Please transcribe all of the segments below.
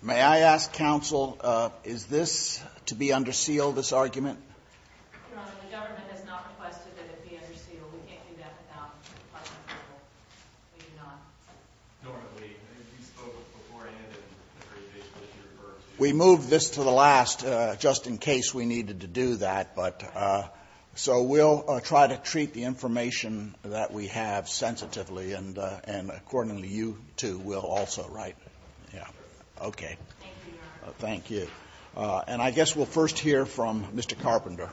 May I ask, Counsel, is this to be under seal, this argument? Your Honor, the government has not requested that it be under seal. We can't do that without the Department's approval, we do not. We moved this to the last, just in case we needed to do that, but so we'll try to treat the information that we have sensitively and accordingly you too will also, right? Thank you, Your Honor. Thank you. And I guess we'll first hear from Mr. Carpenter.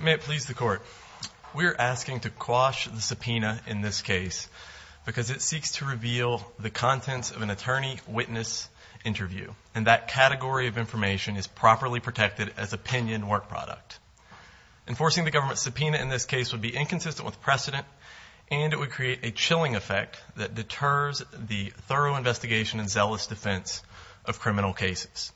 May it please the Court. We're asking to quash the subpoena in this case because it seeks to reveal the contents of an attorney witness interview and that category of information is properly protected as opinion work product. Enforcing the government's subpoena in this case would be inconsistent with precedent and it would create a chilling effect that deters the thorough investigation and zealous defense of criminal cases.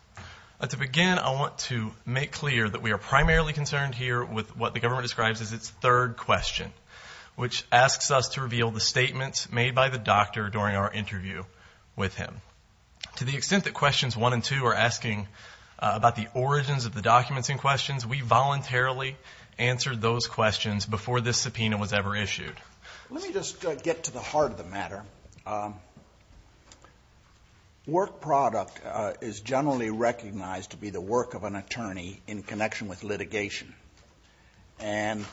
To begin, I want to make clear that we are primarily concerned here with what the government describes as its third question, which asks us to reveal the statements made by the doctor during our interview with him. To the extent that questions one and two are asking about the origins of the documents in questions, we voluntarily answered those questions before this subpoena was ever issued. Let me just get to the heart of the matter. Work product is generally recognized to be the work of an attorney in connection with a witness. The way in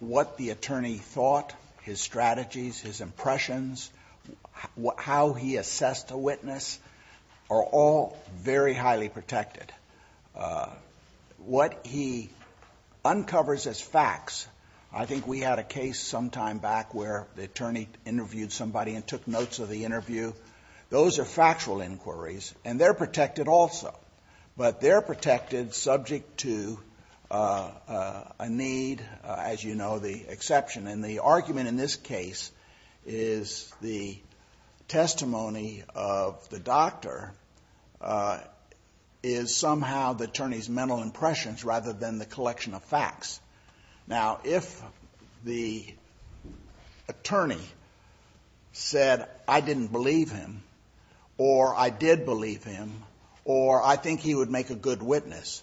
which the attorney assesses a witness, the way in which he makes impressions, how he assessed a witness, are all very highly protected. What he uncovers as facts, I think we had a case sometime back where the attorney interviewed somebody and took notes of the interview. Those are factual inquiries and they're protected also. But they're protected subject to a need, as you know, the exception, and the argument in this case is the testimony of the doctor is somehow the attorney's mental impressions rather than the collection of facts. Now if the attorney said, I didn't believe him, or I did believe him, or I think he would make a good witness,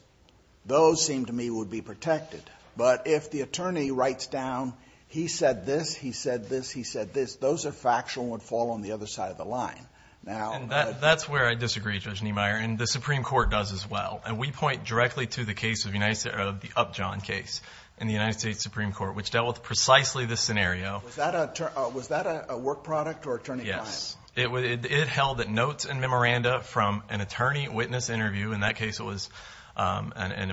those seem to me would be protected. But if the attorney writes down, he said this, he said this, he said this, those are factual and would fall on the other side of the line. That's where I disagree, Judge Niemeyer, and the Supreme Court does as well. We point directly to the case of the Upjohn case in the United States Supreme Court, which dealt with precisely this scenario. Was that a work product or attorney client? Yes. It held that notes and memoranda from an attorney witness interview, in that case it was an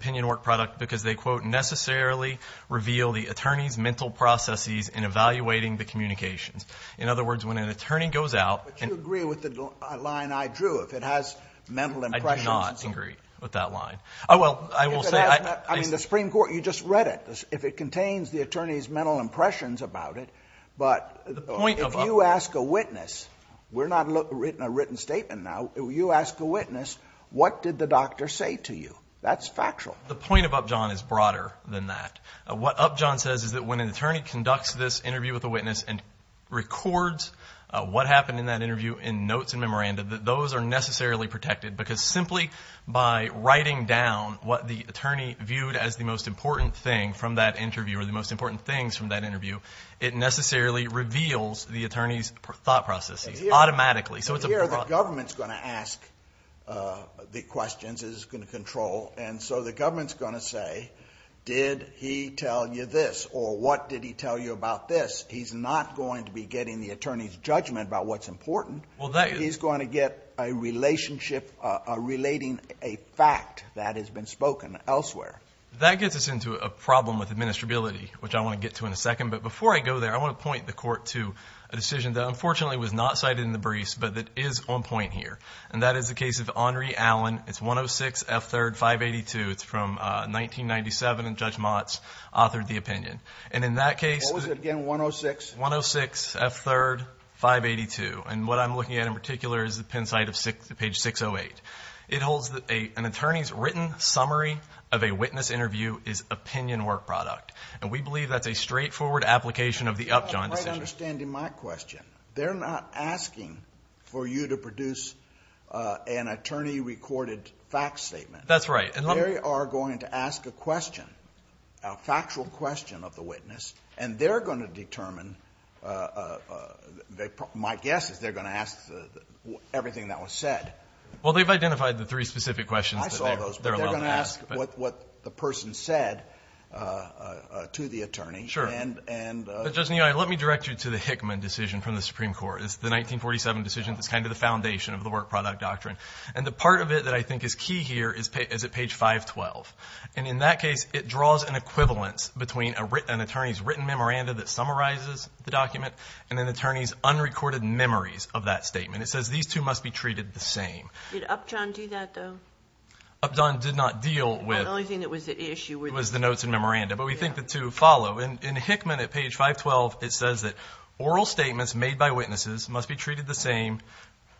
opinion work product, because they quote, necessarily reveal the attorney's mental processes in evaluating the communications. In other words, when an attorney goes out. But you agree with the line I drew, if it has mental impressions. I do not agree with that line. Oh well, I will say. I mean, the Supreme Court, you just read it, if it contains the attorney's mental impressions about it, but if you ask a witness, we're not looking at a written statement now, you ask a witness, what did the doctor say to you? That's factual. The point of Upjohn is broader than that. What Upjohn says is that when an attorney conducts this interview with a witness and records what happened in that interview in notes and memoranda, that those are necessarily protected because simply by writing down what the attorney viewed as the most important thing from that interview, or the most important things from that interview, it necessarily reveals the attorney's thought processes automatically. Here, the government's going to ask the questions, it's going to control, and so the government's going to say, did he tell you this, or what did he tell you about this? He's not going to be getting the attorney's judgment about what's important. He's going to get a relationship relating a fact that has been spoken elsewhere. That gets us into a problem with administrability, which I want to get to in a second, but before I go there, I want to point the court to a decision that unfortunately was not cited in the briefs, but that is on point here, and that is the case of Henri Allen. It's 106F3RD582. It's from 1997, and Judge Motz authored the opinion, and in that case... What was it again, 106? 106F3RD582, and what I'm looking at in particular is the pen site of page 608. It holds that an attorney's written summary of a witness interview is opinion work product, and we believe that's a straightforward application of the Upjohn decision. You're not quite understanding my question. They're not asking for you to produce an attorney-recorded fact statement. That's right. They are going to ask a question, a factual question of the witness, and they're going to determine... My guess is they're going to ask everything that was said. Well, they've identified the three specific questions that they're allowed to ask. I saw those, but they're going to ask what the person said to the attorney. Sure. Judge Neely, let me direct you to the Hickman decision from the Supreme Court. It's the 1947 decision that's kind of the foundation of the work product doctrine, and the part of it that I think is key here is at page 512, and in that case, it draws an equivalence between an attorney's written memoranda that summarizes the document and an attorney's unrecorded memories of that statement. It says these two must be treated the same. Did Upjohn do that, though? Upjohn did not deal with... The only thing that was at issue was...... was the notes and memoranda, but we think the two follow. In Hickman at page 512, it says that oral statements made by witnesses must be treated the same,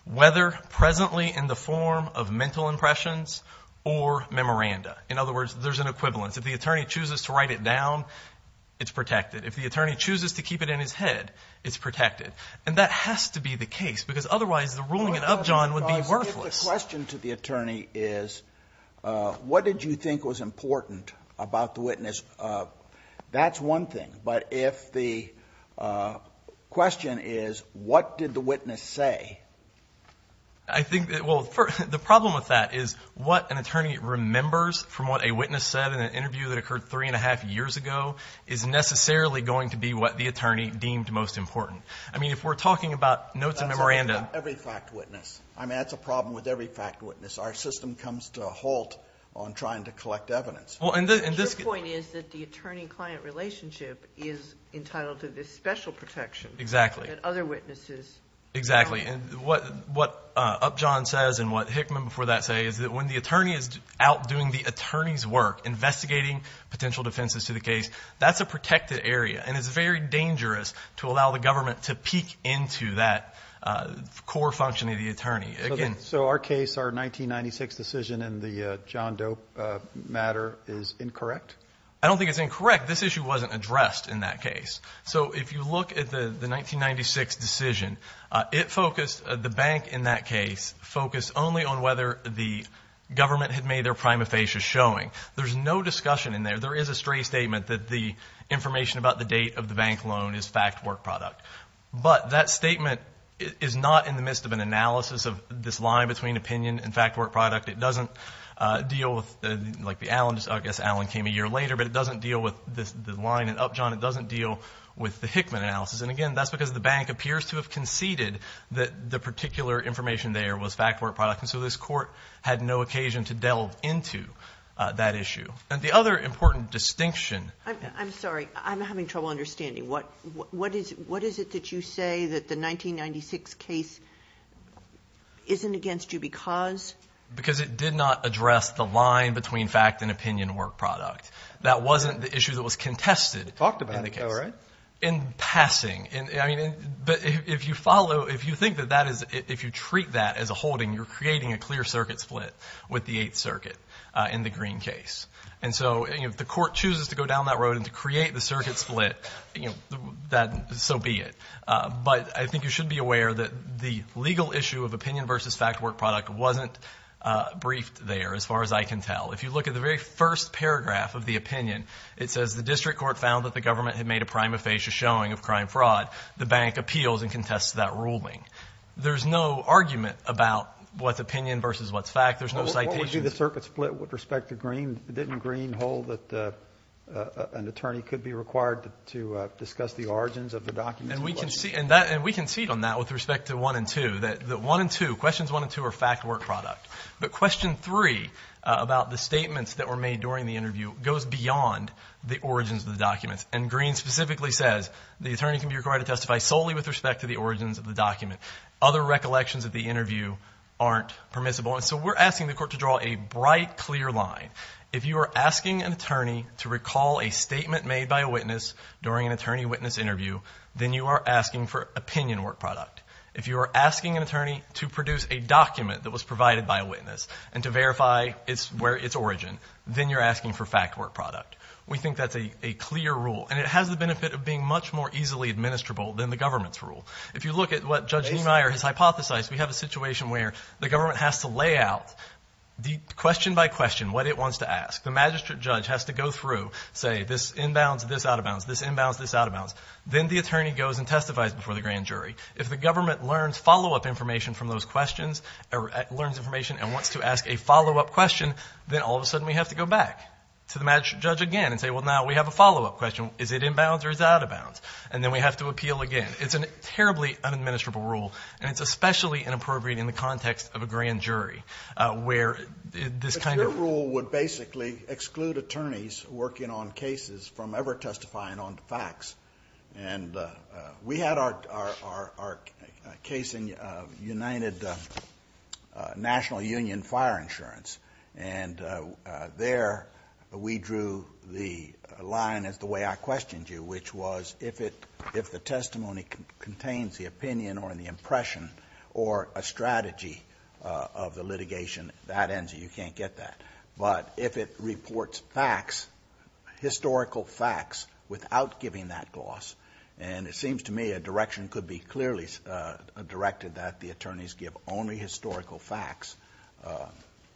whether presently in the form of mental impressions or memoranda. In other words, there's an equivalence. If the attorney chooses to write it down, it's protected. If the attorney chooses to keep it in his head, it's protected, and that has to be the case because otherwise, the ruling in Upjohn would be worthless. The question to the attorney is, what did you think was important about the witness? That's one thing, but if the question is, what did the witness say? I think that... well, the problem with that is what an attorney remembers from what a witness said in an interview that occurred three and a half years ago is necessarily going to be what the attorney deemed most important. I mean, if we're talking about notes and memoranda... That's a problem with every fact witness. I mean, that's a problem with every fact witness. Our system comes to a halt on trying to collect evidence. Well, and this... Your point is that the attorney-client relationship is entitled to this special protection... Exactly.... that other witnesses... Exactly, and what Upjohn says and what Hickman before that says is that when the attorney is out doing the attorney's work, investigating potential defenses to the case, that's a protected area, and it's very dangerous to allow the government to peek into that core function of the attorney. So our case, our 1996 decision in the John Doe matter is incorrect? I don't think it's incorrect. This issue wasn't addressed in that case. So if you look at the 1996 decision, it focused... the bank in that case focused only on whether the government had made their prima facie showing. There's no discussion in there. There is a straight statement that the information about the date of the bank loan is fact work product. But that statement is not in the midst of an analysis of this line between opinion and fact work product. It doesn't deal with... like the Allen... I guess Allen came a year later, but it doesn't deal with the line in Upjohn. It doesn't deal with the Hickman analysis, and again, that's because the bank appears to have conceded that the particular information there was fact work product, and so this court had no occasion to delve into that issue. And the other important distinction... I'm sorry. I'm having trouble understanding. What is it that you say that the 1996 case isn't against you because... Because it did not address the line between fact and opinion work product. That wasn't the issue that was contested... Talked about it, though, right? In passing. I mean, if you follow... if you think that that is... if you treat that as a holding, you're creating a clear circuit split with the Eighth Circuit in the Green case. And so, you know, if the court chooses to go down that road and to create the circuit split, you know, that... so be it. But I think you should be aware that the legal issue of opinion versus fact work product wasn't briefed there, as far as I can tell. If you look at the very first paragraph of the opinion, it says the district court found that the government had made a prima facie showing of crime fraud. The bank appeals and contests that ruling. There's no argument about what's opinion versus what's fact. There's no citation... Didn't Green hold that an attorney could be required to discuss the origins of the document? And we can see... and we concede on that with respect to 1 and 2, that 1 and 2... questions 1 and 2 are fact work product. But question 3 about the statements that were made during the interview goes beyond the origins of the documents. And Green specifically says the attorney can be required to testify solely with respect to the origins of the document. Other recollections of the interview aren't permissible. And so we're asking the court to draw a bright, clear line. If you are asking an attorney to recall a statement made by a witness during an attorney witness interview, then you are asking for opinion work product. If you are asking an attorney to produce a document that was provided by a witness and to verify its origin, then you're asking for fact work product. We think that's a clear rule, and it has the benefit of being much more easily administrable than the government's rule. If you look at what Judge Niemeyer has hypothesized, we have a situation where the government has to lay out question by question what it wants to ask. The magistrate judge has to go through, say, this inbounds, this out-of-bounds, this inbounds, this out-of-bounds. Then the attorney goes and testifies before the grand jury. If the government learns follow-up information from those questions, learns information and wants to ask a follow-up question, then all of a sudden we have to go back to the magistrate judge again and say, well, now we have a follow-up question. Is it inbounds or is it out-of-bounds? And then we have to appeal again. But your rule would basically exclude attorneys working on cases from ever testifying on facts. We had our case in United National Union Fire Insurance, and there we drew the line as the way I questioned you, which was if the testimony contains the opinion or the impression or a strategy of the litigation, that ends it. You can't get that. But if it reports facts, historical facts, without giving that gloss, and it seems to me a direction could be clearly directed that the attorneys give only historical facts.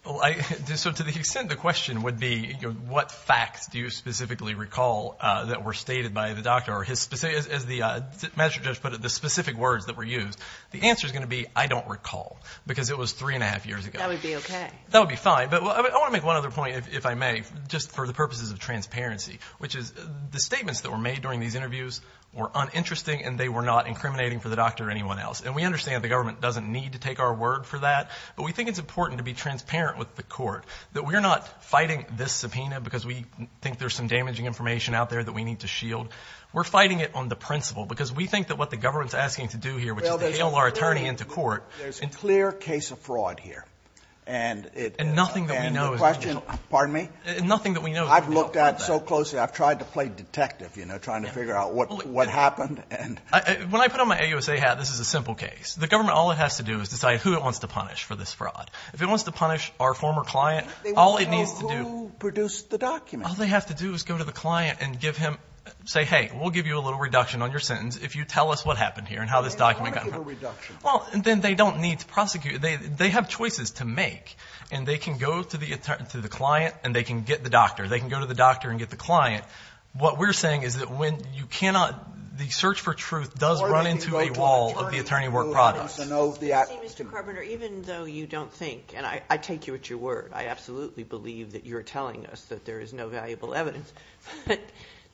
So to the extent the question would be what facts do you specifically recall that were stated by the doctor or his specific, as the magistrate judge put it, the specific words that were used, the answer is going to be I don't recall, because it was three and a half years ago. That would be okay. That would be fine. But I want to make one other point, if I may, just for the purposes of transparency, which is the statements that were made during these interviews were uninteresting and they were not incriminating for the doctor or anyone else. And we understand the government doesn't need to take our word for that, but we think it's important to be transparent with the court, that we're not fighting this subpoena because we think there's some damaging information out there that we need to shield. We're fighting it on the principle, because we think that what the government's asking to do here, which is to hail our attorney into court and clear case of fraud here. And the question, pardon me? Nothing that we know. I've looked at it so closely. I've tried to play detective, you know, trying to figure out what happened. When I put on my AUSA hat, this is a simple case. The government, all it has to do is decide who it wants to punish for this fraud. If it wants to punish our former client, all it needs to do is go to the client and give him, say, hey, we'll give you a little reduction on your sentence if you tell us what happened here and how this document got... Well, then they don't need to prosecute. They have choices to make, and they can go to the client and they can get the doctor. They can go to the doctor and get the client. What we're saying is that when you cannot, the search for truth does run into a wall of the attorney work products. See, Mr. Carpenter, even though you don't think, and I take you at your word, I absolutely believe that you're telling us that there is no valuable evidence, but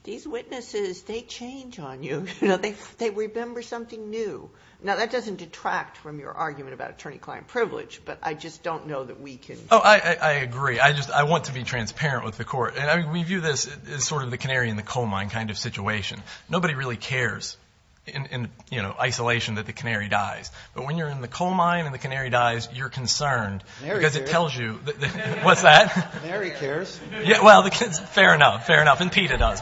these witnesses, they change on you. They remember something new. Now, that doesn't detract from your argument about attorney-client privilege, but I just don't know that we can... Oh, I agree. I just, I want to be transparent with the court, and we view this as sort of the canary in the coal mine kind of situation. Nobody really cares in isolation that the canary dies, but when you're in the coal mine and the canary dies, you're concerned because it tells you... Mary cares. What's that? Mary cares. Well, fair enough. Fair enough. And PETA does.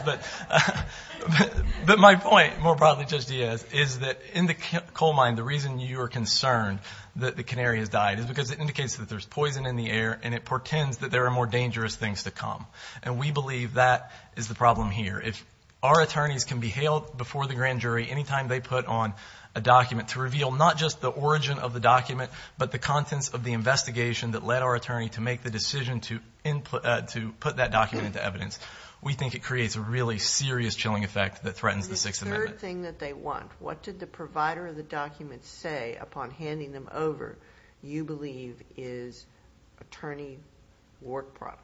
But my point, more broadly, Judge Diaz, is that in the coal mine, the reason you are concerned that the canary has died is because it indicates that there's poison in the air, and it portends that there are more dangerous things to come. And we believe that is the problem here. If our attorneys can be hailed before the grand jury any time they put on a document to reveal not just the origin of the document, but the contents of the investigation that led our attorney to make the decision to put that document into evidence, we think it creates a really serious chilling effect that threatens the Sixth Amendment. And the third thing that they want, what did the provider of the document say upon handing them over, you believe is attorney warped product?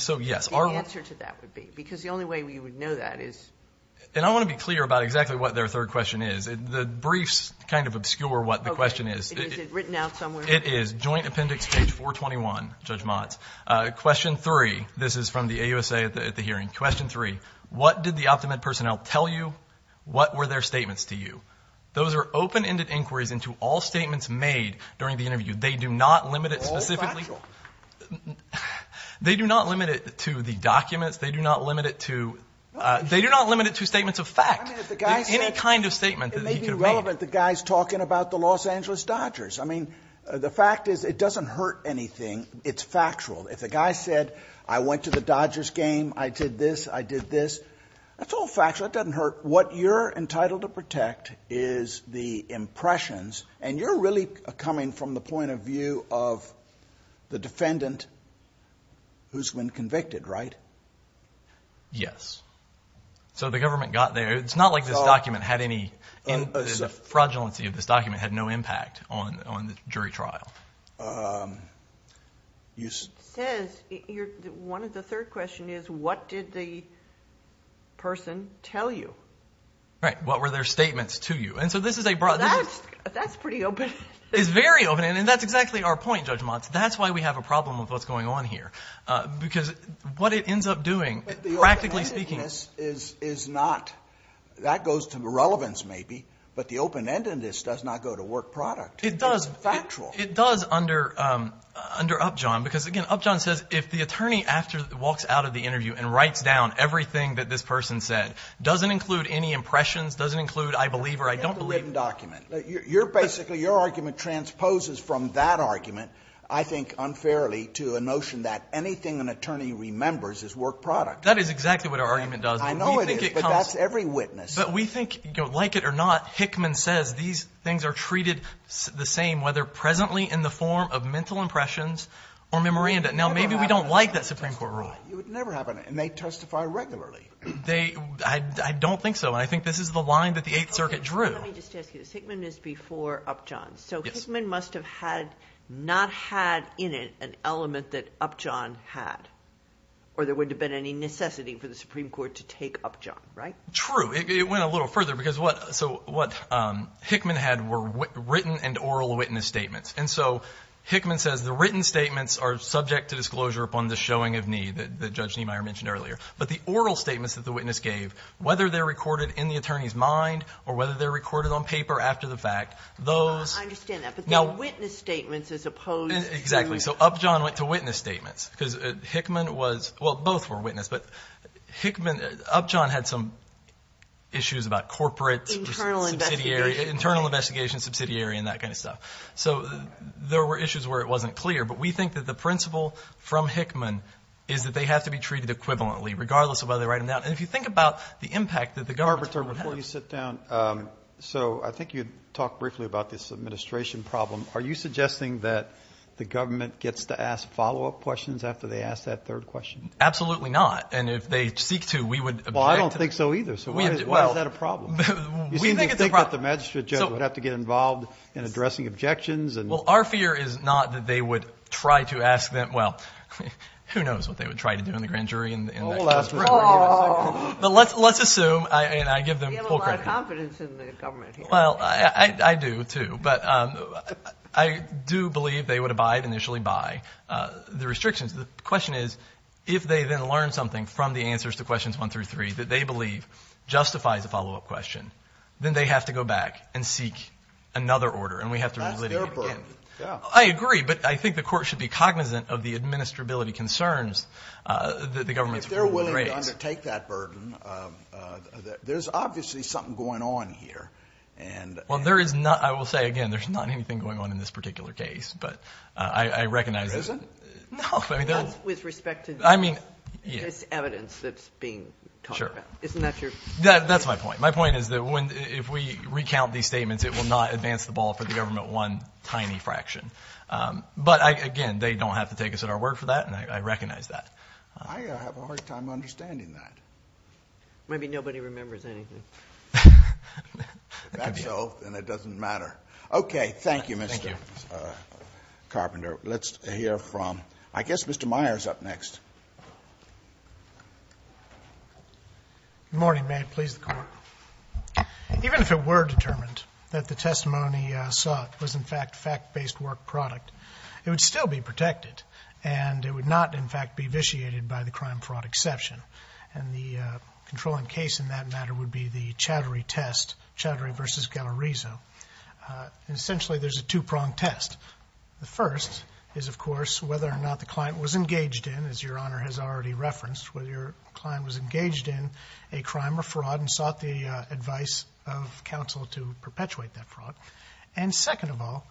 So yes. The answer to that would be, because the only way we would know that is... And I want to be clear about exactly what their third question is. The briefs kind of obscure what the question is. Okay. Is it written out somewhere? It is. Joint appendix, page 421, Judge Motz. Question three. This is from the AUSA at the hearing. Question three. What did the OptumEd personnel tell you? What were their statements to you? Those are open-ended inquiries into all statements made during the interview. They do not limit it specifically... All factual. They do not limit it to the documents. They do not limit it to... They do not limit it to statements of fact, any kind of statement that he could make. It may be relevant, the guys talking about the Los Angeles Dodgers. The fact is, it doesn't hurt anything. It's factual. If the guy said, I went to the Dodgers game, I did this, I did this, that's all factual. That doesn't hurt. What you're entitled to protect is the impressions, and you're really coming from the point of view of the defendant who's been convicted, right? Yes. So the government got there. It's not like this document had any... The fraudulency of this document had no impact on the jury trial. It says... One of the third questions is, what did the person tell you? Right. What were their statements to you? And so this is a broad... That's pretty open-ended. It's very open-ended, and that's exactly our point, Judge Motz. That's why we have a problem with what's going on here, because what it ends up doing, practically speaking... But the open-endedness is not... That goes to relevance, maybe, but the open-endedness does not go to work product. It's factual. It does, under Upjohn, because, again, Upjohn says, if the attorney walks out of the interview and writes down everything that this person said, doesn't include any impressions, doesn't include I believe or I don't believe... It's a written document. You're basically... Your argument transposes from that argument, I think unfairly, to a notion that anything an attorney remembers is work product. That is exactly what our argument does. I know it is, but that's every witness. But we think, like it or not, Hickman says these things are treated the same, whether presently in the form of mental impressions or memoranda. Now, maybe we don't like that Supreme Court rule. It would never happen, and they testify regularly. I don't think so, and I think this is the line that the Eighth Circuit drew. Let me just ask you this. Hickman is before Upjohn, so Hickman must have not had in it an element that Upjohn had, or there wouldn't have been any necessity for the Supreme Court to take Upjohn, right? True. It went a little further, because what Hickman had were written and oral witness statements, and so Hickman says the written statements are subject to disclosure upon the showing of need that Judge Niemeyer mentioned earlier, but the oral statements that the witness gave, whether they're recorded in the attorney's mind or whether they're recorded on paper after the fact, those... I understand that, but the witness statements as opposed to... Exactly. So Upjohn went to witness statements, because Hickman was... Well, both were witness, but Hickman... Upjohn had some issues about corporate... Internal investigation.... subsidiary, internal investigation subsidiary, and that kind of stuff, so there were issues where it wasn't clear, but we think that the principle from Hickman is that they have to be treated equivalently, regardless of whether they write them down, and if you think about the impact that the government... Barbara, before you sit down, so I think you talked briefly about this administration problem. Are you suggesting that the government gets to ask follow-up questions after they ask that third question? Absolutely not, and if they seek to, we would object to that. Well, I don't think so either, so why is that a problem? We think it's a problem. You seem to think that the magistrate judge would have to get involved in addressing objections and... Well, our fear is not that they would try to ask them... Well, who knows what they would try to do in the grand jury in that case, but let's assume, and I give them full credit. We have a lot of confidence in the government here. Well, I do too, but I do believe they would abide initially by the restrictions. The question is, if they then learn something from the answers to questions one through three that they believe justifies a follow-up question, then they have to go back and seek another order, and we have to... That's their burden. Yeah. I agree, but I think the court should be cognizant of the administrability concerns that the government's... If they're willing to undertake that burden, there's obviously something going on here, and... Well, there is not, I will say again, there's not anything going on in this particular case, but I recognize... There isn't? No. With respect to... I mean... It's evidence that's being talked about. Sure. Isn't that your... That's my point. My point is that if we recount these statements, it will not advance the ball for the government one tiny fraction, but again, they don't have to take us at our word for that, and I recognize that. I have a hard time understanding that. Maybe nobody remembers anything. If that's so, then it doesn't matter. Okay. Thank you, Mr. Carpenter. Let's hear from, I guess, Mr. Myers up next. Good morning. May it please the Court. Even if it were determined that the testimony sought was, in fact, fact-based work product, it would still be protected, and it would not, in fact, be vitiated by the crime-fraud exception, and the controlling case in that matter would be the Chowdhury test, Chowdhury versus Galarizo. Essentially, there's a two-pronged test. The first is, of course, whether or not the client was engaged in, as Your Honor has already referenced, whether your client was engaged in a crime or fraud and sought the advice of counsel to perpetuate that fraud. And second of all,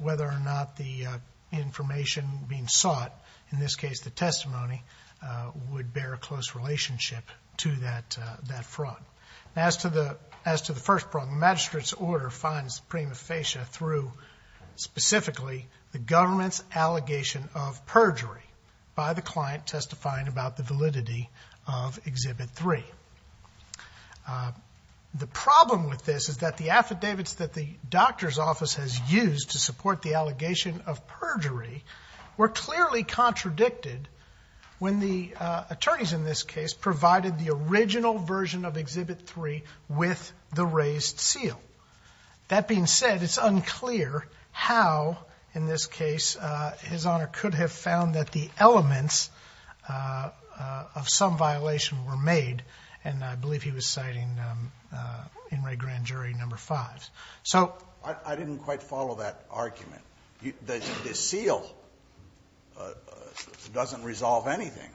whether or not the information being sought, in this case the testimony, would bear a close relationship to that fraud. As to the first prong, the magistrate's order finds prima facie through, specifically, the government's allegation of perjury by the client testifying about the validity of Exhibit 3. The problem with this is that the affidavits that the doctor's office has used to support the allegation of perjury were clearly contradicted when the attorneys in this case provided the original version of Exhibit 3 with the raised seal. That being said, it's unclear how, in this case, His Honor could have found that the elements of some violation were made. And I believe he was citing In re Grand Jury No. 5. So ---- I didn't quite follow that argument. The seal doesn't resolve anything.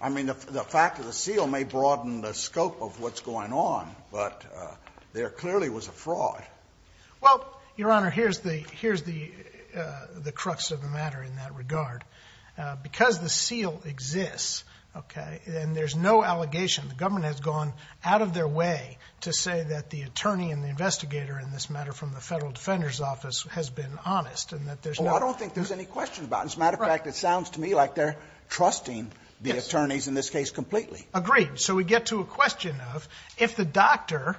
I mean, the fact that the seal may broaden the scope of what's going on, but there clearly was a fraud. Well, Your Honor, here's the crux of the matter in that regard. Because the seal exists, okay, and there's no allegation, the government has gone out of their way to say that the attorney and the investigator in this matter from the Federal Defender's Office has been honest and that there's not ---- Well, I don't think there's any question about it. As a matter of fact, it sounds to me like they're trusting the attorneys in this case completely. Agreed. So we get to a question of if the doctor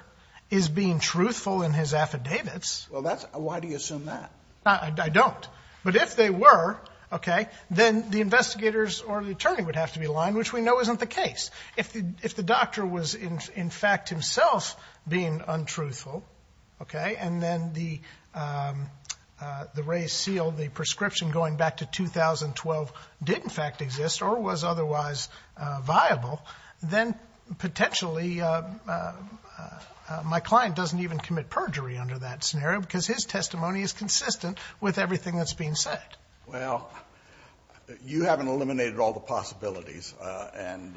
is being truthful in his affidavits ---- Well, that's ---- Why do you assume that? I don't. But if they were, okay, then the investigators or the attorney would have to be lying, which we know isn't the case. If the doctor was, in fact, himself being untruthful, okay, and then the raised seal, the prescription going back to 2012 did, in fact, exist or was otherwise viable, then potentially my client doesn't even commit perjury under that scenario, because his testimony is consistent with everything that's being said. Well, you haven't eliminated all the possibilities, and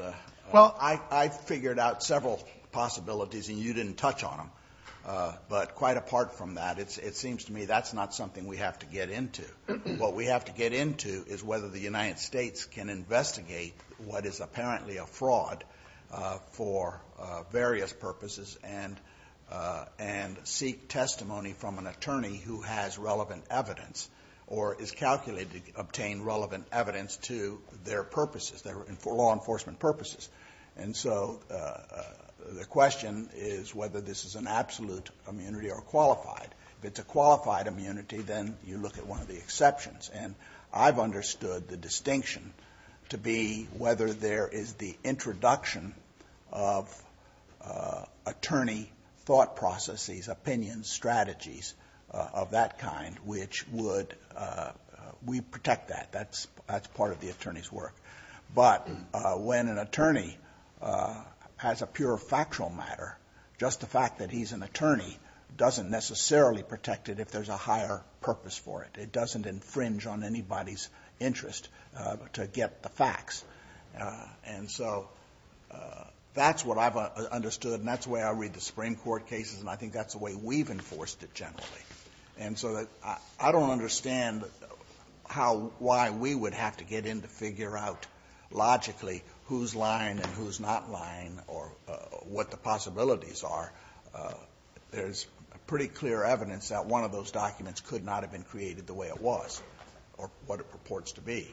I've figured out several possibilities, and you didn't touch on them. But quite apart from that, it seems to me that's not something we have to get into. What we have to get into is whether the United States can investigate what is apparently a fraud for various purposes and seek testimony from an attorney who has relevant evidence or is calculated to obtain relevant evidence to their purposes, their law enforcement purposes. And so the question is whether this is an absolute immunity or qualified. If it's a qualified immunity, then you look at one of the exceptions. And I've understood the distinction to be whether there is the introduction of attorney thought processes, opinions, strategies of that kind, which would... we protect that. That's part of the attorney's work. But when an attorney has a pure factual matter, just the fact that he's an attorney doesn't necessarily protect it if there's a higher purpose for it. It doesn't infringe on anybody's interest to get the facts. And so that's what I've understood, and that's the way I read the Supreme Court cases, and I think that's the way we've enforced it generally. And so I don't understand how why we would have to get in to figure out logically who's lying and who's not lying or what the possibilities are. There's pretty clear evidence that one of those documents could not have been created the way it was or what it purports to be.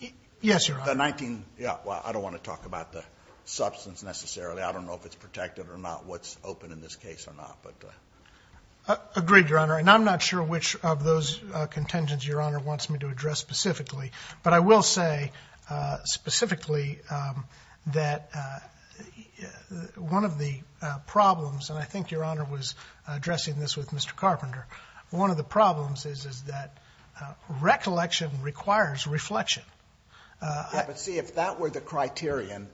The 19 ---- Scalia, I don't want to talk about the substance necessarily. I don't know if it's protected or not, what's open in this case or not, but the ---- Agreed, Your Honor. And I'm not sure which of those contingents Your Honor wants me to address specifically, but I will say specifically that one of the problems, and I think Your Honor was addressing this with Mr. Carpenter, one of the problems is that recollection requires reflection. Yeah, but see, if that were the criterion,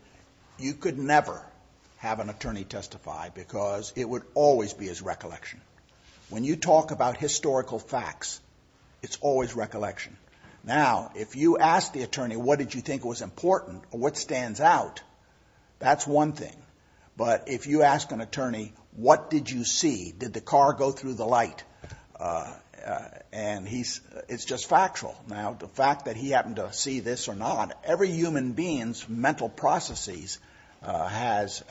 you could never have an attorney testify because it would always be his recollection. When you talk about historical facts, it's always recollection. Now, if you ask the attorney what did you think was important or what stands out, that's one thing. But if you ask an attorney what did you see, did the car go through the light, and it's just factual. Now, the fact that he happened to see this or not, every human being's mental processes has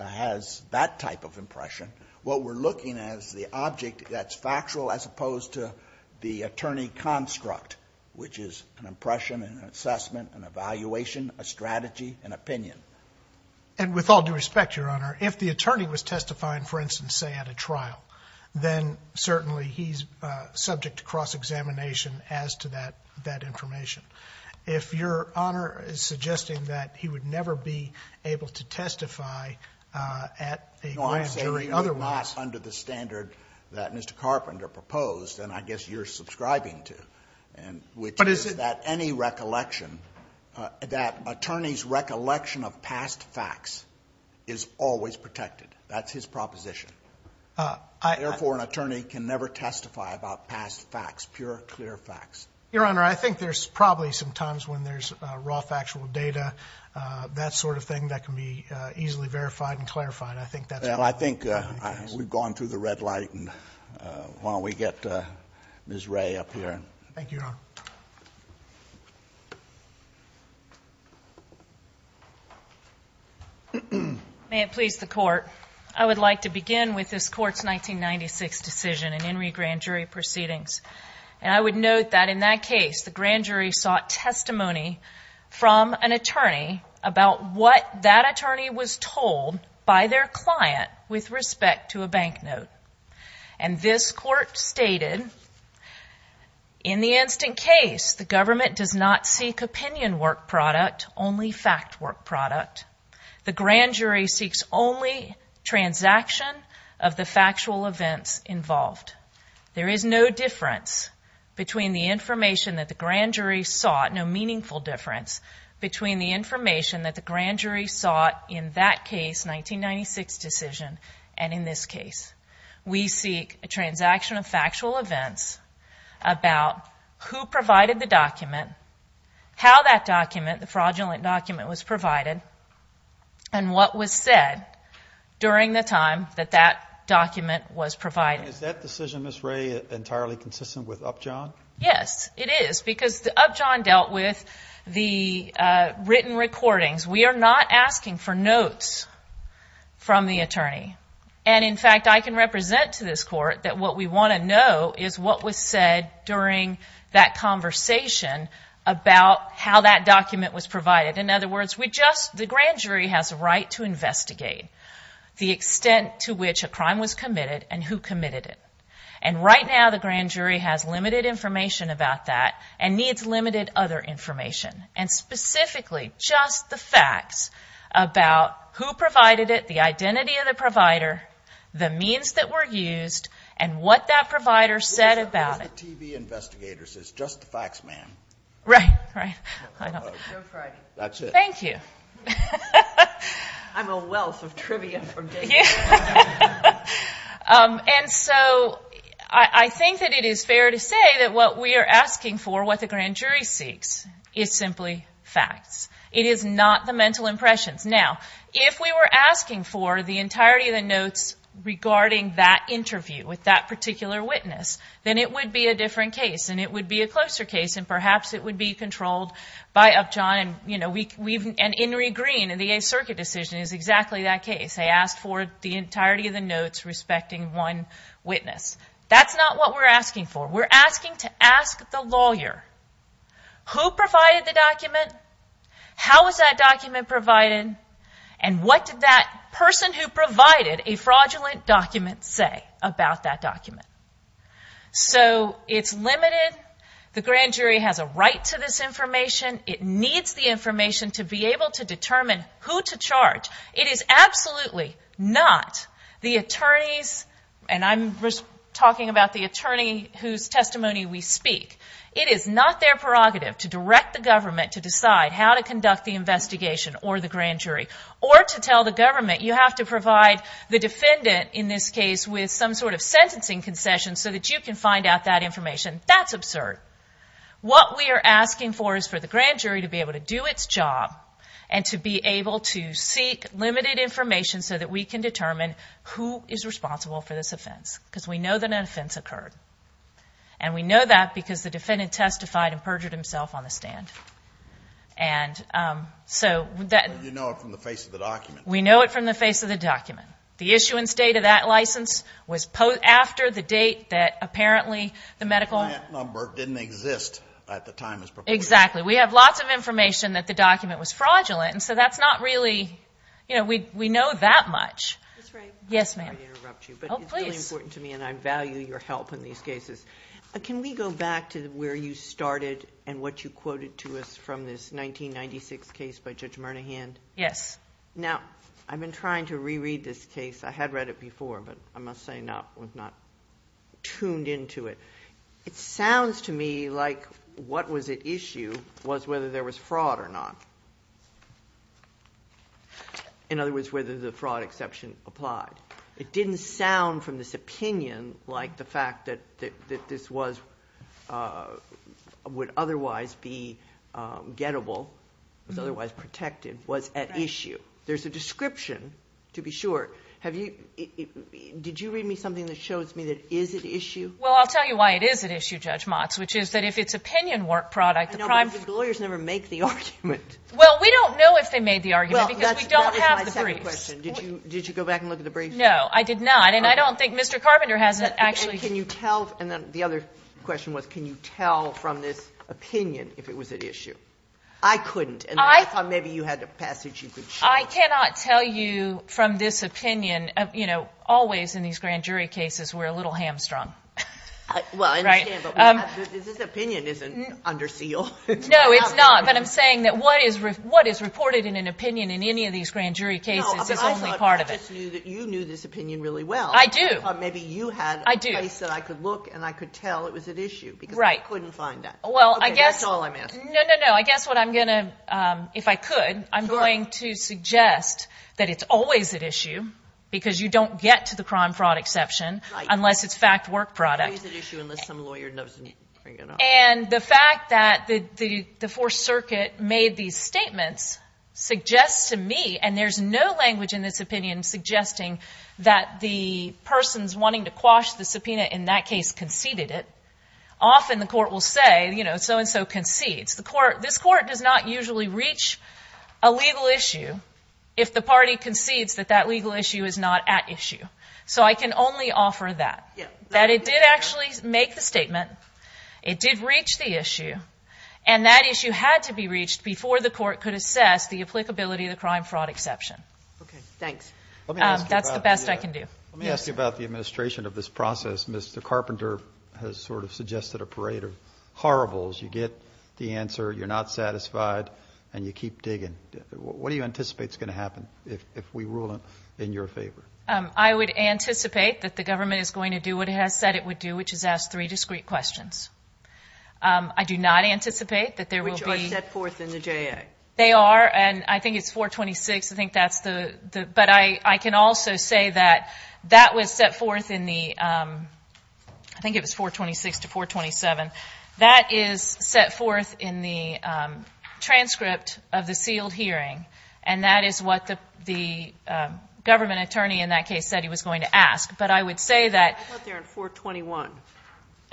that type of impression. What we're looking at is the object that's factual as opposed to the attorney construct, which is an impression, an assessment, an evaluation, a strategy, an opinion. And with all due respect, Your Honor, if the attorney was testifying, for instance, say at a trial, then certainly he's subject to cross-examination as to that information. If Your Honor is suggesting that he would never be able to testify at a grand jury No, I'm saying that under the standard that Mr. Carpenter proposed, and I guess you're subscribing to, which is that any recollection, that attorney's recollection of past facts is always protected. That's his proposition. Therefore, an attorney can never testify about past facts, pure, clear facts. Your Honor, I think there's probably some times when there's raw factual data, that sort of thing, that can be easily verified and clarified. I think that's probably the case. Well, I think we've gone through the red light, and why don't we get Ms. Wray up here. Thank you, Your Honor. May it please the Court. I would like to begin with this Court's 1996 decision in Enree Grand Jury Proceedings. And I would note that in that case, the grand jury sought testimony from an attorney about what that attorney was told by their client with respect to a bank note. And this Court stated, in the instant case, the government does not seek opinion work product, only fact work product. The grand jury seeks only transaction of the factual events involved. There is no difference between the information that the grand jury sought, no meaningful difference between the information that the grand jury sought in that case, 1996 decision, and in this case. We seek a transaction of factual events about who provided the document, how that document, the fraudulent document, was provided, and what was said during the time that that document was provided. Is that decision, Ms. Wray, entirely consistent with Upjohn? Yes, it is, because Upjohn dealt with the written recordings. We are not asking for notes from the attorney. And in fact, I can represent to this Court that what we want to know is what was said during that conversation about how that document was provided. In other words, we just, the grand jury has a right to investigate the extent to which a crime was committed and who committed it. And right now the grand jury has limited information about that and needs limited other information. And specifically, just the facts about who provided it, the identity of the provider, the means that were used, and what that provider said about it. Yes, the TV investigator says, just the facts, ma'am. Right, right. That's it. Thank you. I'm a wealth of trivia for days. And so, I think that it is fair to say that what we are asking for, what the grand jury seeks, is simply facts. It is not the mental impressions. Now, if we were asking for the entirety of the notes regarding that interview with that particular witness, then it would be a different case, and it would be a closer case, and perhaps it would be controlled by Upjohn and, you know, we've, and Enri Green in the 8th Circuit decision is exactly that case. They asked for the entirety of the notes respecting one witness. That's not what we're asking for. We're asking to ask the lawyer, who provided the document? How was that document provided? And what did that person who provided a fraudulent document say about that document? So it's limited. The grand jury has a right to this information. It needs the information to be able to determine who to charge. It is absolutely not the attorney's, and I'm talking about the attorney whose testimony we speak, it is not their prerogative to direct the government to decide how to conduct the investigation or the grand jury, or to tell the government, you have to provide the defendant in this case with some sort of sentencing concession so that you can find out that information. That's absurd. What we are asking for is for the grand jury to be able to do its job and to be able to seek limited information so that we can determine who is responsible for this offense, because we know that an offense occurred. And we know that because the defendant testified and perjured himself on the stand. And so that... You know it from the face of the document. We know it from the face of the document. The issuance date of that license was after the date that apparently the medical... That number didn't exist at the time it was proposed. Exactly. We have lots of information that the document was fraudulent, and so that's not really... We know that much. Yes, ma'am. I'm sorry to interrupt you, but it's really important to me, and I value your help in these cases. Can we go back to where you started and what you quoted to us from this 1996 case by Judge Moynihan? Yes. Now, I've been trying to reread this case. I had read it before, but I must say I was not tuned into it. It sounds to me like what was at issue was whether there was fraud or not. In other words, whether the fraud exception applied. It didn't sound from this opinion like the fact that this would otherwise be gettable, was otherwise protected, was at issue. There's a description, to be sure. Did you read me something that shows me that is at issue? Well, I'll tell you why it is at issue, Judge Motz, which is that if it's opinion work product, the prime... I know, but lawyers never make the argument. Well, we don't know if they made the argument because we don't have the briefs. That is my second question. Did you go back and look at the briefs? No, I did not, and I don't think Mr. Carpenter has it actually... Can you tell... And then the other question was, can you tell from this opinion if it was at issue? I couldn't, and I thought maybe you had a passage you could share. I cannot tell you from this opinion. Always in these grand jury cases, we're a little hamstrung. Well, I understand, but this opinion isn't under seal. No, it's not, but I'm saying that what is reported in an opinion in any of these grand jury cases is only part of it. No, but I thought that you knew this opinion really well. I do. I thought maybe you had a case that I could look and I could tell it was at issue because I couldn't find that. Right. Well, I guess... Okay, that's all I'm asking. No, no, no. I guess what I'm going to... If I could, I'm going to suggest that it's always at issue because you don't get to the crime-fraud exception unless it's fact-work product. It's always at issue unless some lawyer doesn't bring it up. And the fact that the Fourth Circuit made these statements suggests to me, and there's no language in this opinion suggesting that the persons wanting to quash the subpoena in that case conceded it. Often the court will say, you know, so-and-so concedes. This court does not usually reach a legal issue if the party concedes that that legal issue is not at issue. So I can only offer that, that it did actually make the statement, it did reach the issue, and that issue had to be reached before the court could assess the applicability of the crime-fraud exception. Okay. Thanks. That's the best I can do. Let me ask you about the administration of this process. Mr. Carpenter has sort of suggested a parade of horribles. You get the answer, you're not satisfied, and you keep digging. What do you anticipate is going to happen if we rule in your favor? I would anticipate that the government is going to do what it has said it would do, which is ask three discreet questions. I do not anticipate that there will be... Which are set forth in the J.A. They are, and I think it's 426. I think that's the... But I can also say that that was set forth in the... I think it was 426 to 427. That is set forth in the transcript of the sealed hearing, and that is what the government attorney in that case said he was going to ask. But I would say that... How about there in 421?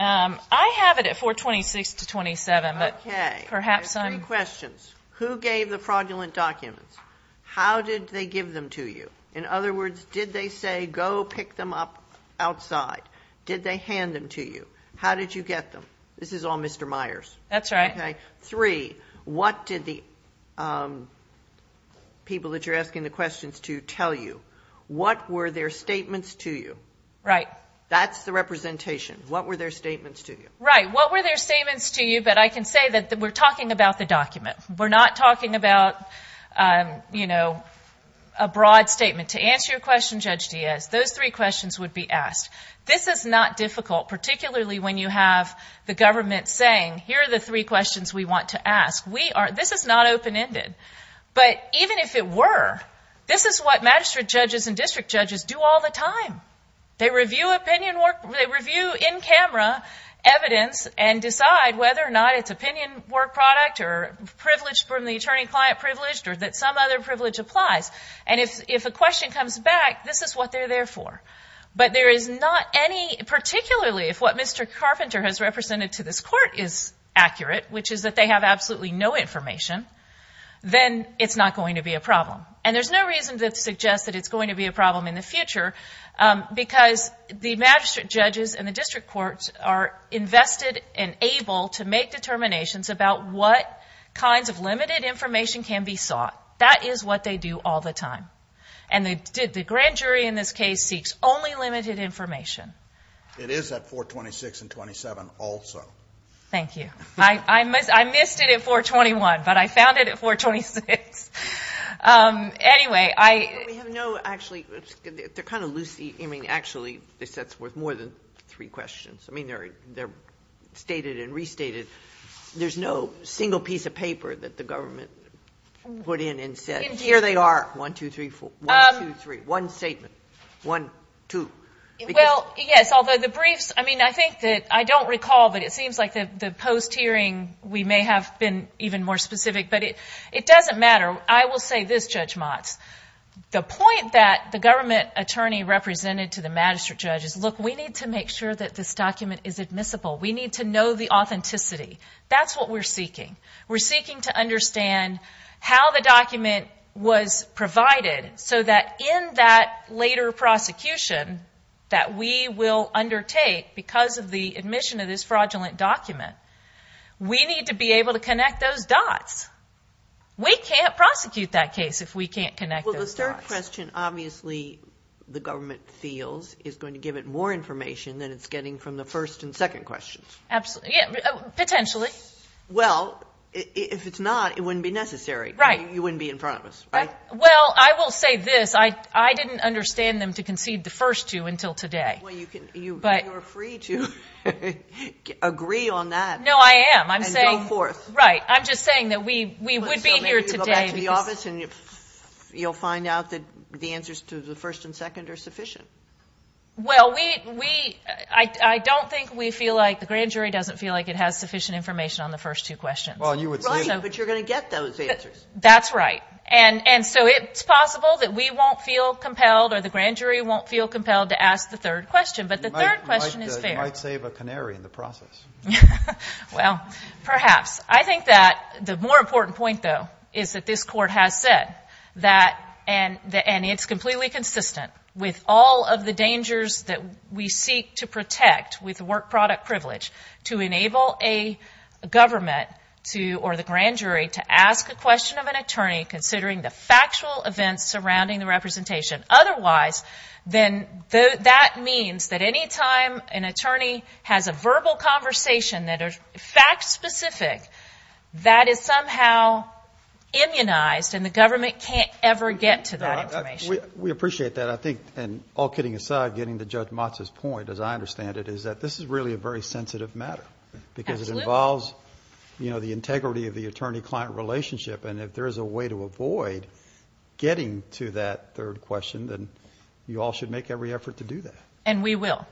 I have it at 426 to 427, but perhaps I'm... Okay. Three questions. Who gave the fraudulent documents? How did they give them to you? In other words, did they say, go pick them up outside? Did they hand them to you? How did you get them? This is all Mr. Myers. That's right. Okay. Three, what did the people that you're asking the questions to tell you? What were their statements to you? Right. That's the representation. What were their statements to you? Right. What were their statements to you? I can tell you, but I can say that we're talking about the document. We're not talking about a broad statement. To answer your question, Judge Diaz, those three questions would be asked. This is not difficult, particularly when you have the government saying, here are the three questions we want to ask. This is not open-ended, but even if it were, this is what magistrate judges and district judges do all the time. They review in-camera evidence and decide whether or not it's opinion work product or privilege from the attorney-client privileged or that some other privilege applies. If a question comes back, this is what they're there for. There is not any, particularly if what Mr. Carpenter has represented to this court is accurate, which is that they have absolutely no information, then it's not going to be a problem. There's no reason to suggest that it's going to be a problem in the future because the magistrate judges and the district courts are invested and able to make determinations about what kinds of limited information can be sought. That is what they do all the time. The grand jury in this case seeks only limited information. It is at 426 and 27 also. Thank you. I missed it at 421, but I found it at 426. Anyway, I... We have no, actually, they're kind of loosey, I mean, actually, it sets forth more than three questions. I mean, they're stated and restated. There's no single piece of paper that the government put in and said, here they are, one, two, three, four, one, two, three, one statement, one, two. Well, yes, although the briefs, I mean, I think that I don't recall, but it seems like the post-hearing, we may have been even more specific, but it doesn't matter. I will say this, Judge Motz, the point that the government attorney represented to the magistrate judge is, look, we need to make sure that this document is admissible. We need to know the authenticity. That's what we're seeking. We're seeking to understand how the document was provided so that in that later prosecution that we will undertake because of the admission of this fraudulent document, we need to be able to connect those dots. We can't prosecute that case if we can't connect those dots. Well, the third question, obviously, the government feels is going to give it more information than it's getting from the first and second questions. Absolutely. Potentially. Well, if it's not, it wouldn't be necessary. Right. You wouldn't be in front of us, right? Well, I will say this. I didn't understand them to concede the first two until today. Well, you can, you are free to agree on that. No, I am. I'm saying. And go forth. Right. I'm just saying that we would be here today. So maybe you go back to the office and you'll find out that the answers to the first and second are sufficient. Well, we, I don't think we feel like, the grand jury doesn't feel like it has sufficient information on the first two questions. Well, you would say. Right. But you're going to get those answers. That's right. Right. And so it's possible that we won't feel compelled or the grand jury won't feel compelled to ask the third question. But the third question is fair. You might save a canary in the process. Well, perhaps. I think that the more important point, though, is that this court has said that, and it's completely consistent with all of the dangers that we seek to protect with work product privilege, to enable a government to, or the grand jury, to ask a question of an attorney considering the factual events surrounding the representation. Otherwise, then that means that any time an attorney has a verbal conversation that is fact specific, that is somehow immunized and the government can't ever get to that information. We appreciate that. I think, and all kidding aside, getting to Judge Motz's point, as I understand it, is that this is really a very sensitive matter because it involves the integrity of the attorney-client relationship. And if there is a way to avoid getting to that third question, then you all should make every effort to do that. And we will.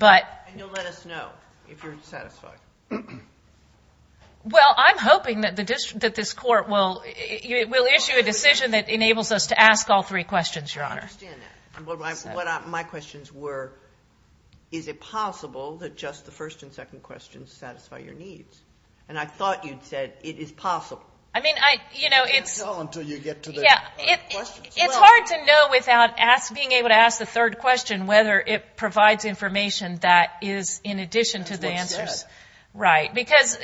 And you'll let us know if you're satisfied. Well, I'm hoping that this court will issue a decision that enables us to ask all three questions, Your Honor. I understand that. My questions were, is it possible that just the first and second questions satisfy your needs? And I thought you'd said it is possible. I mean, you know, it's hard to know without being able to ask the third question whether it provides information that is in addition to the answers. Because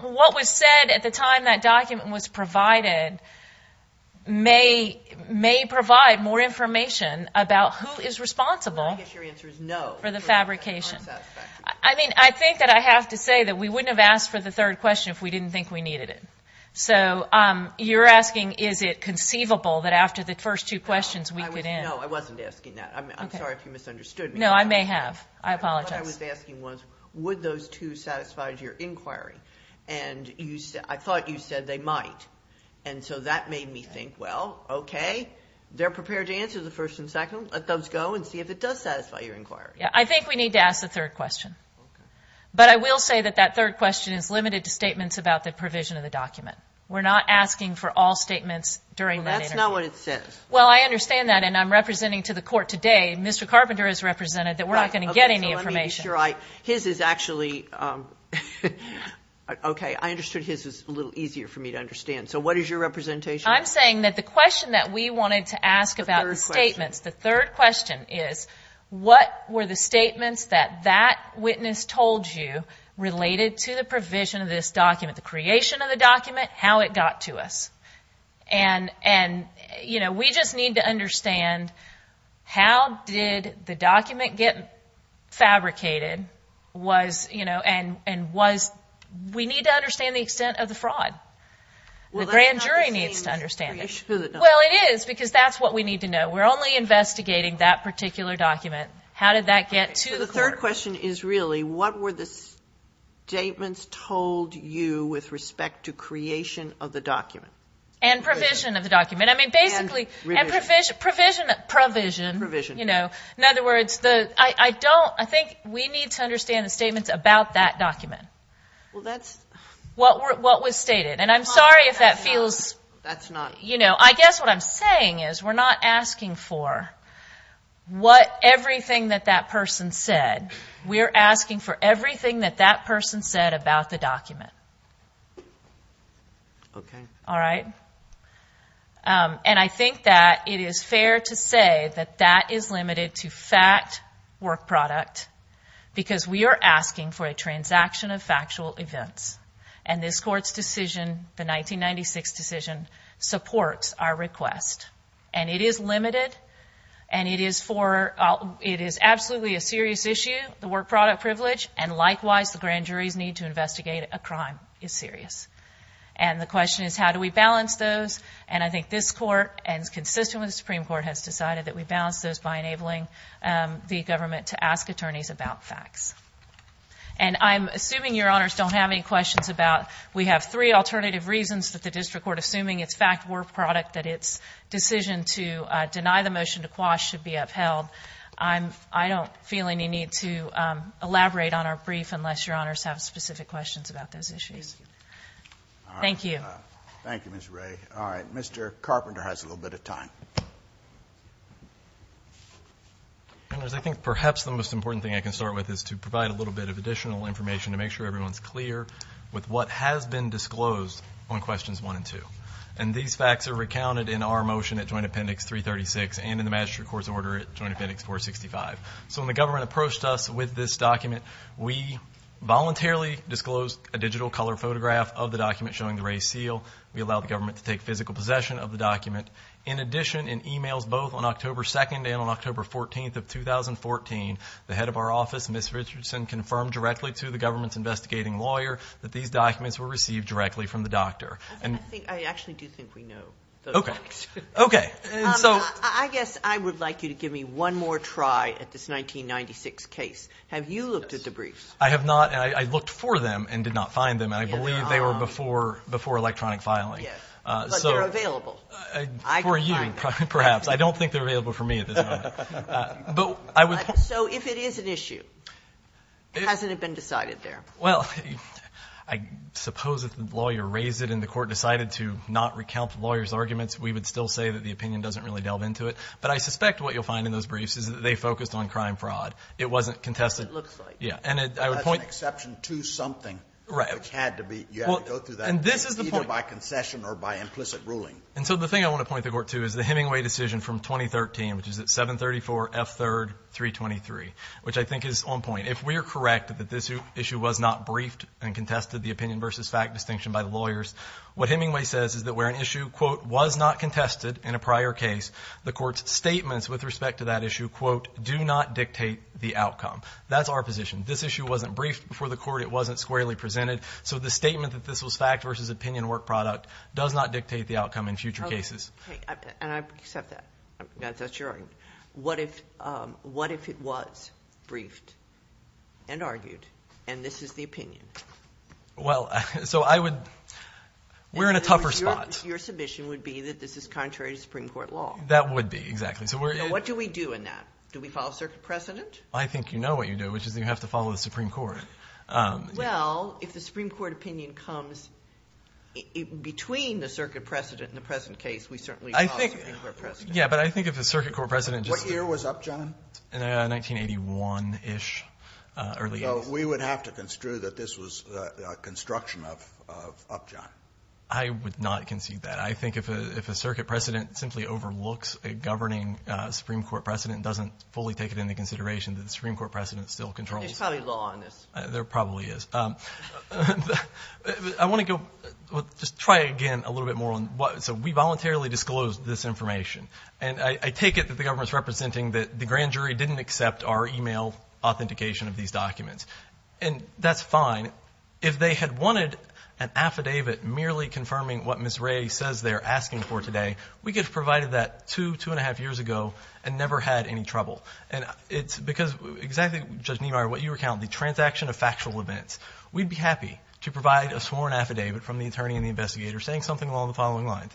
what was said at the time that document was provided may provide more information about who is responsible for the fabrication. I mean, I think that I have to say that we wouldn't have asked for the third question if we didn't think we needed it. So you're asking, is it conceivable that after the first two questions, we could end? No, I wasn't asking that. I'm sorry if you misunderstood me. No, I may have. I apologize. What I was asking was, would those two satisfy your inquiry? And I thought you said they might. And so that made me think, well, okay. They're prepared to answer the first and second, let those go and see if it does satisfy your inquiry. Yeah, I think we need to ask the third question. But I will say that that third question is limited to statements about the provision of the document. We're not asking for all statements during that interview. Well, that's not what it says. Well, I understand that, and I'm representing to the court today, Mr. Carpenter has represented that we're not going to get any information. His is actually, okay, I understood his is a little easier for me to understand. So what is your representation? I'm saying that the question that we wanted to ask about the statements, the third question is, what were the statements that that witness told you related to the provision of this document, the creation of the document, how it got to us? And, you know, we just need to understand how did the document get fabricated, was, you know, and was, we need to understand the extent of the fraud. The grand jury needs to understand that. Well, it is, because that's what we need to know. We're only investigating that particular document. How did that get to the court? So the third question is really, what were the statements told you with respect to creation of the document? And provision of the document. I mean, basically, provision, provision, provision, you know, in other words, I don't, I think we need to understand the statements about that document, what was stated. And I'm sorry if that feels, you know, I guess what I'm saying is we're not asking for what everything that that person said, we're asking for everything that that person said about the document. Okay. All right. And I think that it is fair to say that that is limited to fact, work product, because we are asking for a transaction of factual events. And this court's decision, the 1996 decision, supports our request. And it is limited, and it is for, it is absolutely a serious issue, the work product privilege, and likewise, the grand jury's need to investigate a crime is serious. And the question is, how do we balance those? And I think this court, and consistent with the Supreme Court, has decided that we balance those by enabling the government to ask attorneys about facts. And I'm assuming your honors don't have any questions about, we have three alternative reasons that the district court, assuming it's fact, work product, that its decision to deny the motion to quash should be upheld. I don't feel any need to elaborate on our brief unless your honors have specific questions about those issues. Thank you. All right. Thank you, Ms. Ray. All right. Mr. Carpenter has a little bit of time. Your honors, I think perhaps the most important thing I can start with is to provide a little bit of additional information to make sure everyone's clear with what has been disclosed on questions one and two. And these facts are recounted in our motion at Joint Appendix 336 and in the magistrate court's order at Joint Appendix 465. So when the government approached us with this document, we voluntarily disclosed a digital color photograph of the document showing the Ray seal. We allowed the government to take physical possession of the document. In addition, in emails both on October 2nd and on October 14th of 2014, the head of our office, Ms. Richardson, confirmed directly to the government's investigating lawyer that these documents were received directly from the doctor. I think I actually do think we know those facts. Okay. Okay. I guess I would like you to give me one more try at this 1996 case. Have you looked at the briefs? I have not. And I looked for them and did not find them, and I believe they were before electronic filing. Yes. But they're available. I can find them. For you, perhaps. I don't think they're available for me at this moment. So if it is an issue, it hasn't been decided there. Well, I suppose if the lawyer raised it and the court decided to not recount the lawyer's case, it doesn't really delve into it. But I suspect what you'll find in those briefs is that they focused on crime fraud. It wasn't contested. It looks like. Yeah. And I would point... That's an exception to something. Right. Which had to be... Well, and this is the point... You have to go through that either by concession or by implicit ruling. And so the thing I want to point the court to is the Hemingway decision from 2013, which is at 734 F3rd 323, which I think is on point. If we are correct that this issue was not briefed and contested, the opinion versus fact distinction by the lawyers, what Hemingway says is that where an issue, quote, was not contested in a prior case, the court's statements with respect to that issue, quote, do not dictate the outcome. That's our position. This issue wasn't briefed before the court. It wasn't squarely presented. So the statement that this was fact versus opinion work product does not dictate the outcome in future cases. Okay. And I accept that. That's your argument. What if it was briefed and argued and this is the opinion? Well, so I would... We're in a tougher spot. Your submission would be that this is contrary to Supreme Court law. That would be, exactly. So what do we do in that? Do we follow circuit precedent? I think you know what you do, which is you have to follow the Supreme Court. Well, if the Supreme Court opinion comes between the circuit precedent and the present case, we certainly follow the Supreme Court precedent. I think... Yeah, but I think if the circuit court precedent just... What year was Upjohn? 1981-ish, early 80s. So we would have to construe that this was a construction of Upjohn. I would not concede that. I think if a circuit precedent simply overlooks a governing Supreme Court precedent, it doesn't fully take it into consideration that the Supreme Court precedent still controls... There's probably law on this. There probably is. I want to go... Well, just try again a little bit more on what... So we voluntarily disclosed this information. And I take it that the government's representing that the grand jury didn't accept our email authentication of these documents. And that's fine. If they had wanted an affidavit merely confirming what Ms. Ray says they're asking for today, we could have provided that two, two and a half years ago and never had any trouble. And it's because exactly, Judge Niemeyer, what you recount, the transaction of factual events, we'd be happy to provide a sworn affidavit from the attorney and the investigator saying something along the following lines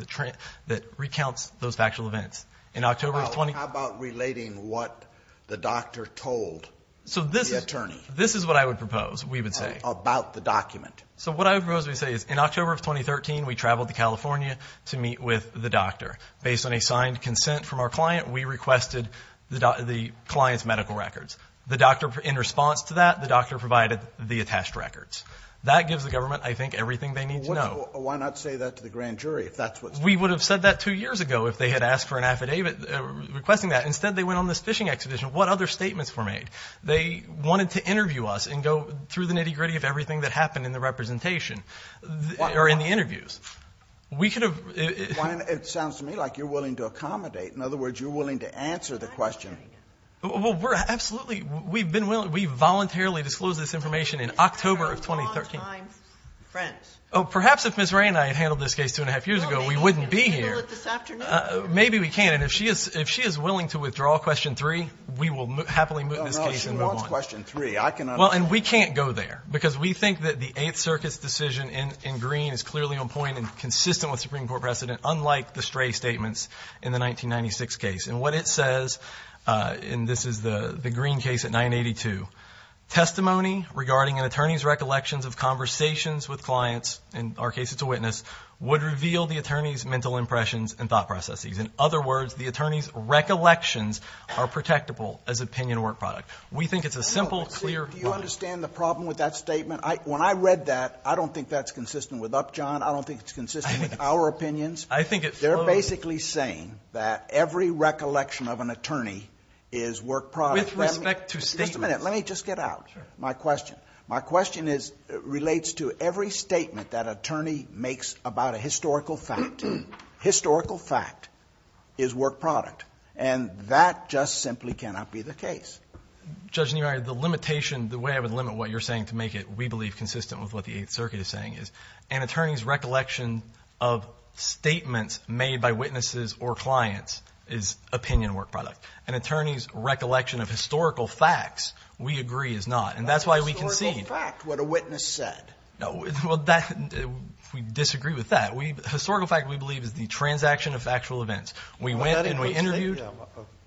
that recounts those factual events. In October of... How about relating what the doctor told the attorney? So this is what I would propose, we would say. About the document. So what I would propose we say is in October of 2013, we traveled to California to meet with the doctor. Based on a signed consent from our client, we requested the client's medical records. The doctor, in response to that, the doctor provided the attached records. That gives the government, I think, everything they need to know. Why not say that to the grand jury if that's what... We would have said that two years ago if they had asked for an affidavit requesting that. Instead, they went on this phishing expedition. What other statements were made? They wanted to interview us and go through the nitty-gritty of everything that happened in the representation. Or in the interviews. We could have... It sounds to me like you're willing to accommodate. In other words, you're willing to answer the question. Well, we're absolutely, we've been willing, we voluntarily disclosed this information in October of 2013. Perhaps if Ms. Ray and I had handled this case two and a half years ago, we wouldn't be here. Maybe we can't, and if she is willing to withdraw question three, we will happily move this case and move on. No, she wants question three. I can understand... Well, and we can't go there. Because we think that the Eighth Circuit's decision in Green is clearly on point and consistent with Supreme Court precedent, unlike the stray statements in the 1996 case. And what it says, and this is the Green case at 982, testimony regarding an attorney's recollections of conversations with clients, in our case it's a witness, would reveal the attorney's mental impressions and thought processes. In other words, the attorney's recollections are protectable as opinion work product. We think it's a simple, clear... No, but see, do you understand the problem with that statement? When I read that, I don't think that's consistent with Upjohn. I don't think it's consistent with our opinions. I think it flows... They're basically saying that every recollection of an attorney is work product. With respect to statements... Just a minute. Let me just get out. Sure. My question. My question relates to every statement that attorney makes about a historical fact. Historical fact is work product. And that just simply cannot be the case. Judge Neumeyer, the limitation, the way I would limit what you're saying to make it, we believe, consistent with what the Eighth Circuit is saying is, an attorney's recollection of statements made by witnesses or clients is opinion work product. An attorney's recollection of historical facts, we agree, is not. And that's why we concede. Historical fact, what a witness said. No, we disagree with that. Historical fact, we believe, is the transaction of factual events. We went and we interviewed...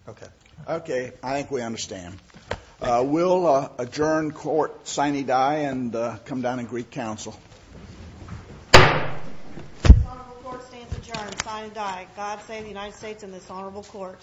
Okay. Okay. I think we understand. We'll adjourn court, signee die, and come down and greet counsel. This Honorable Court stands adjourned, signee die. God save the United States and this Honorable Court.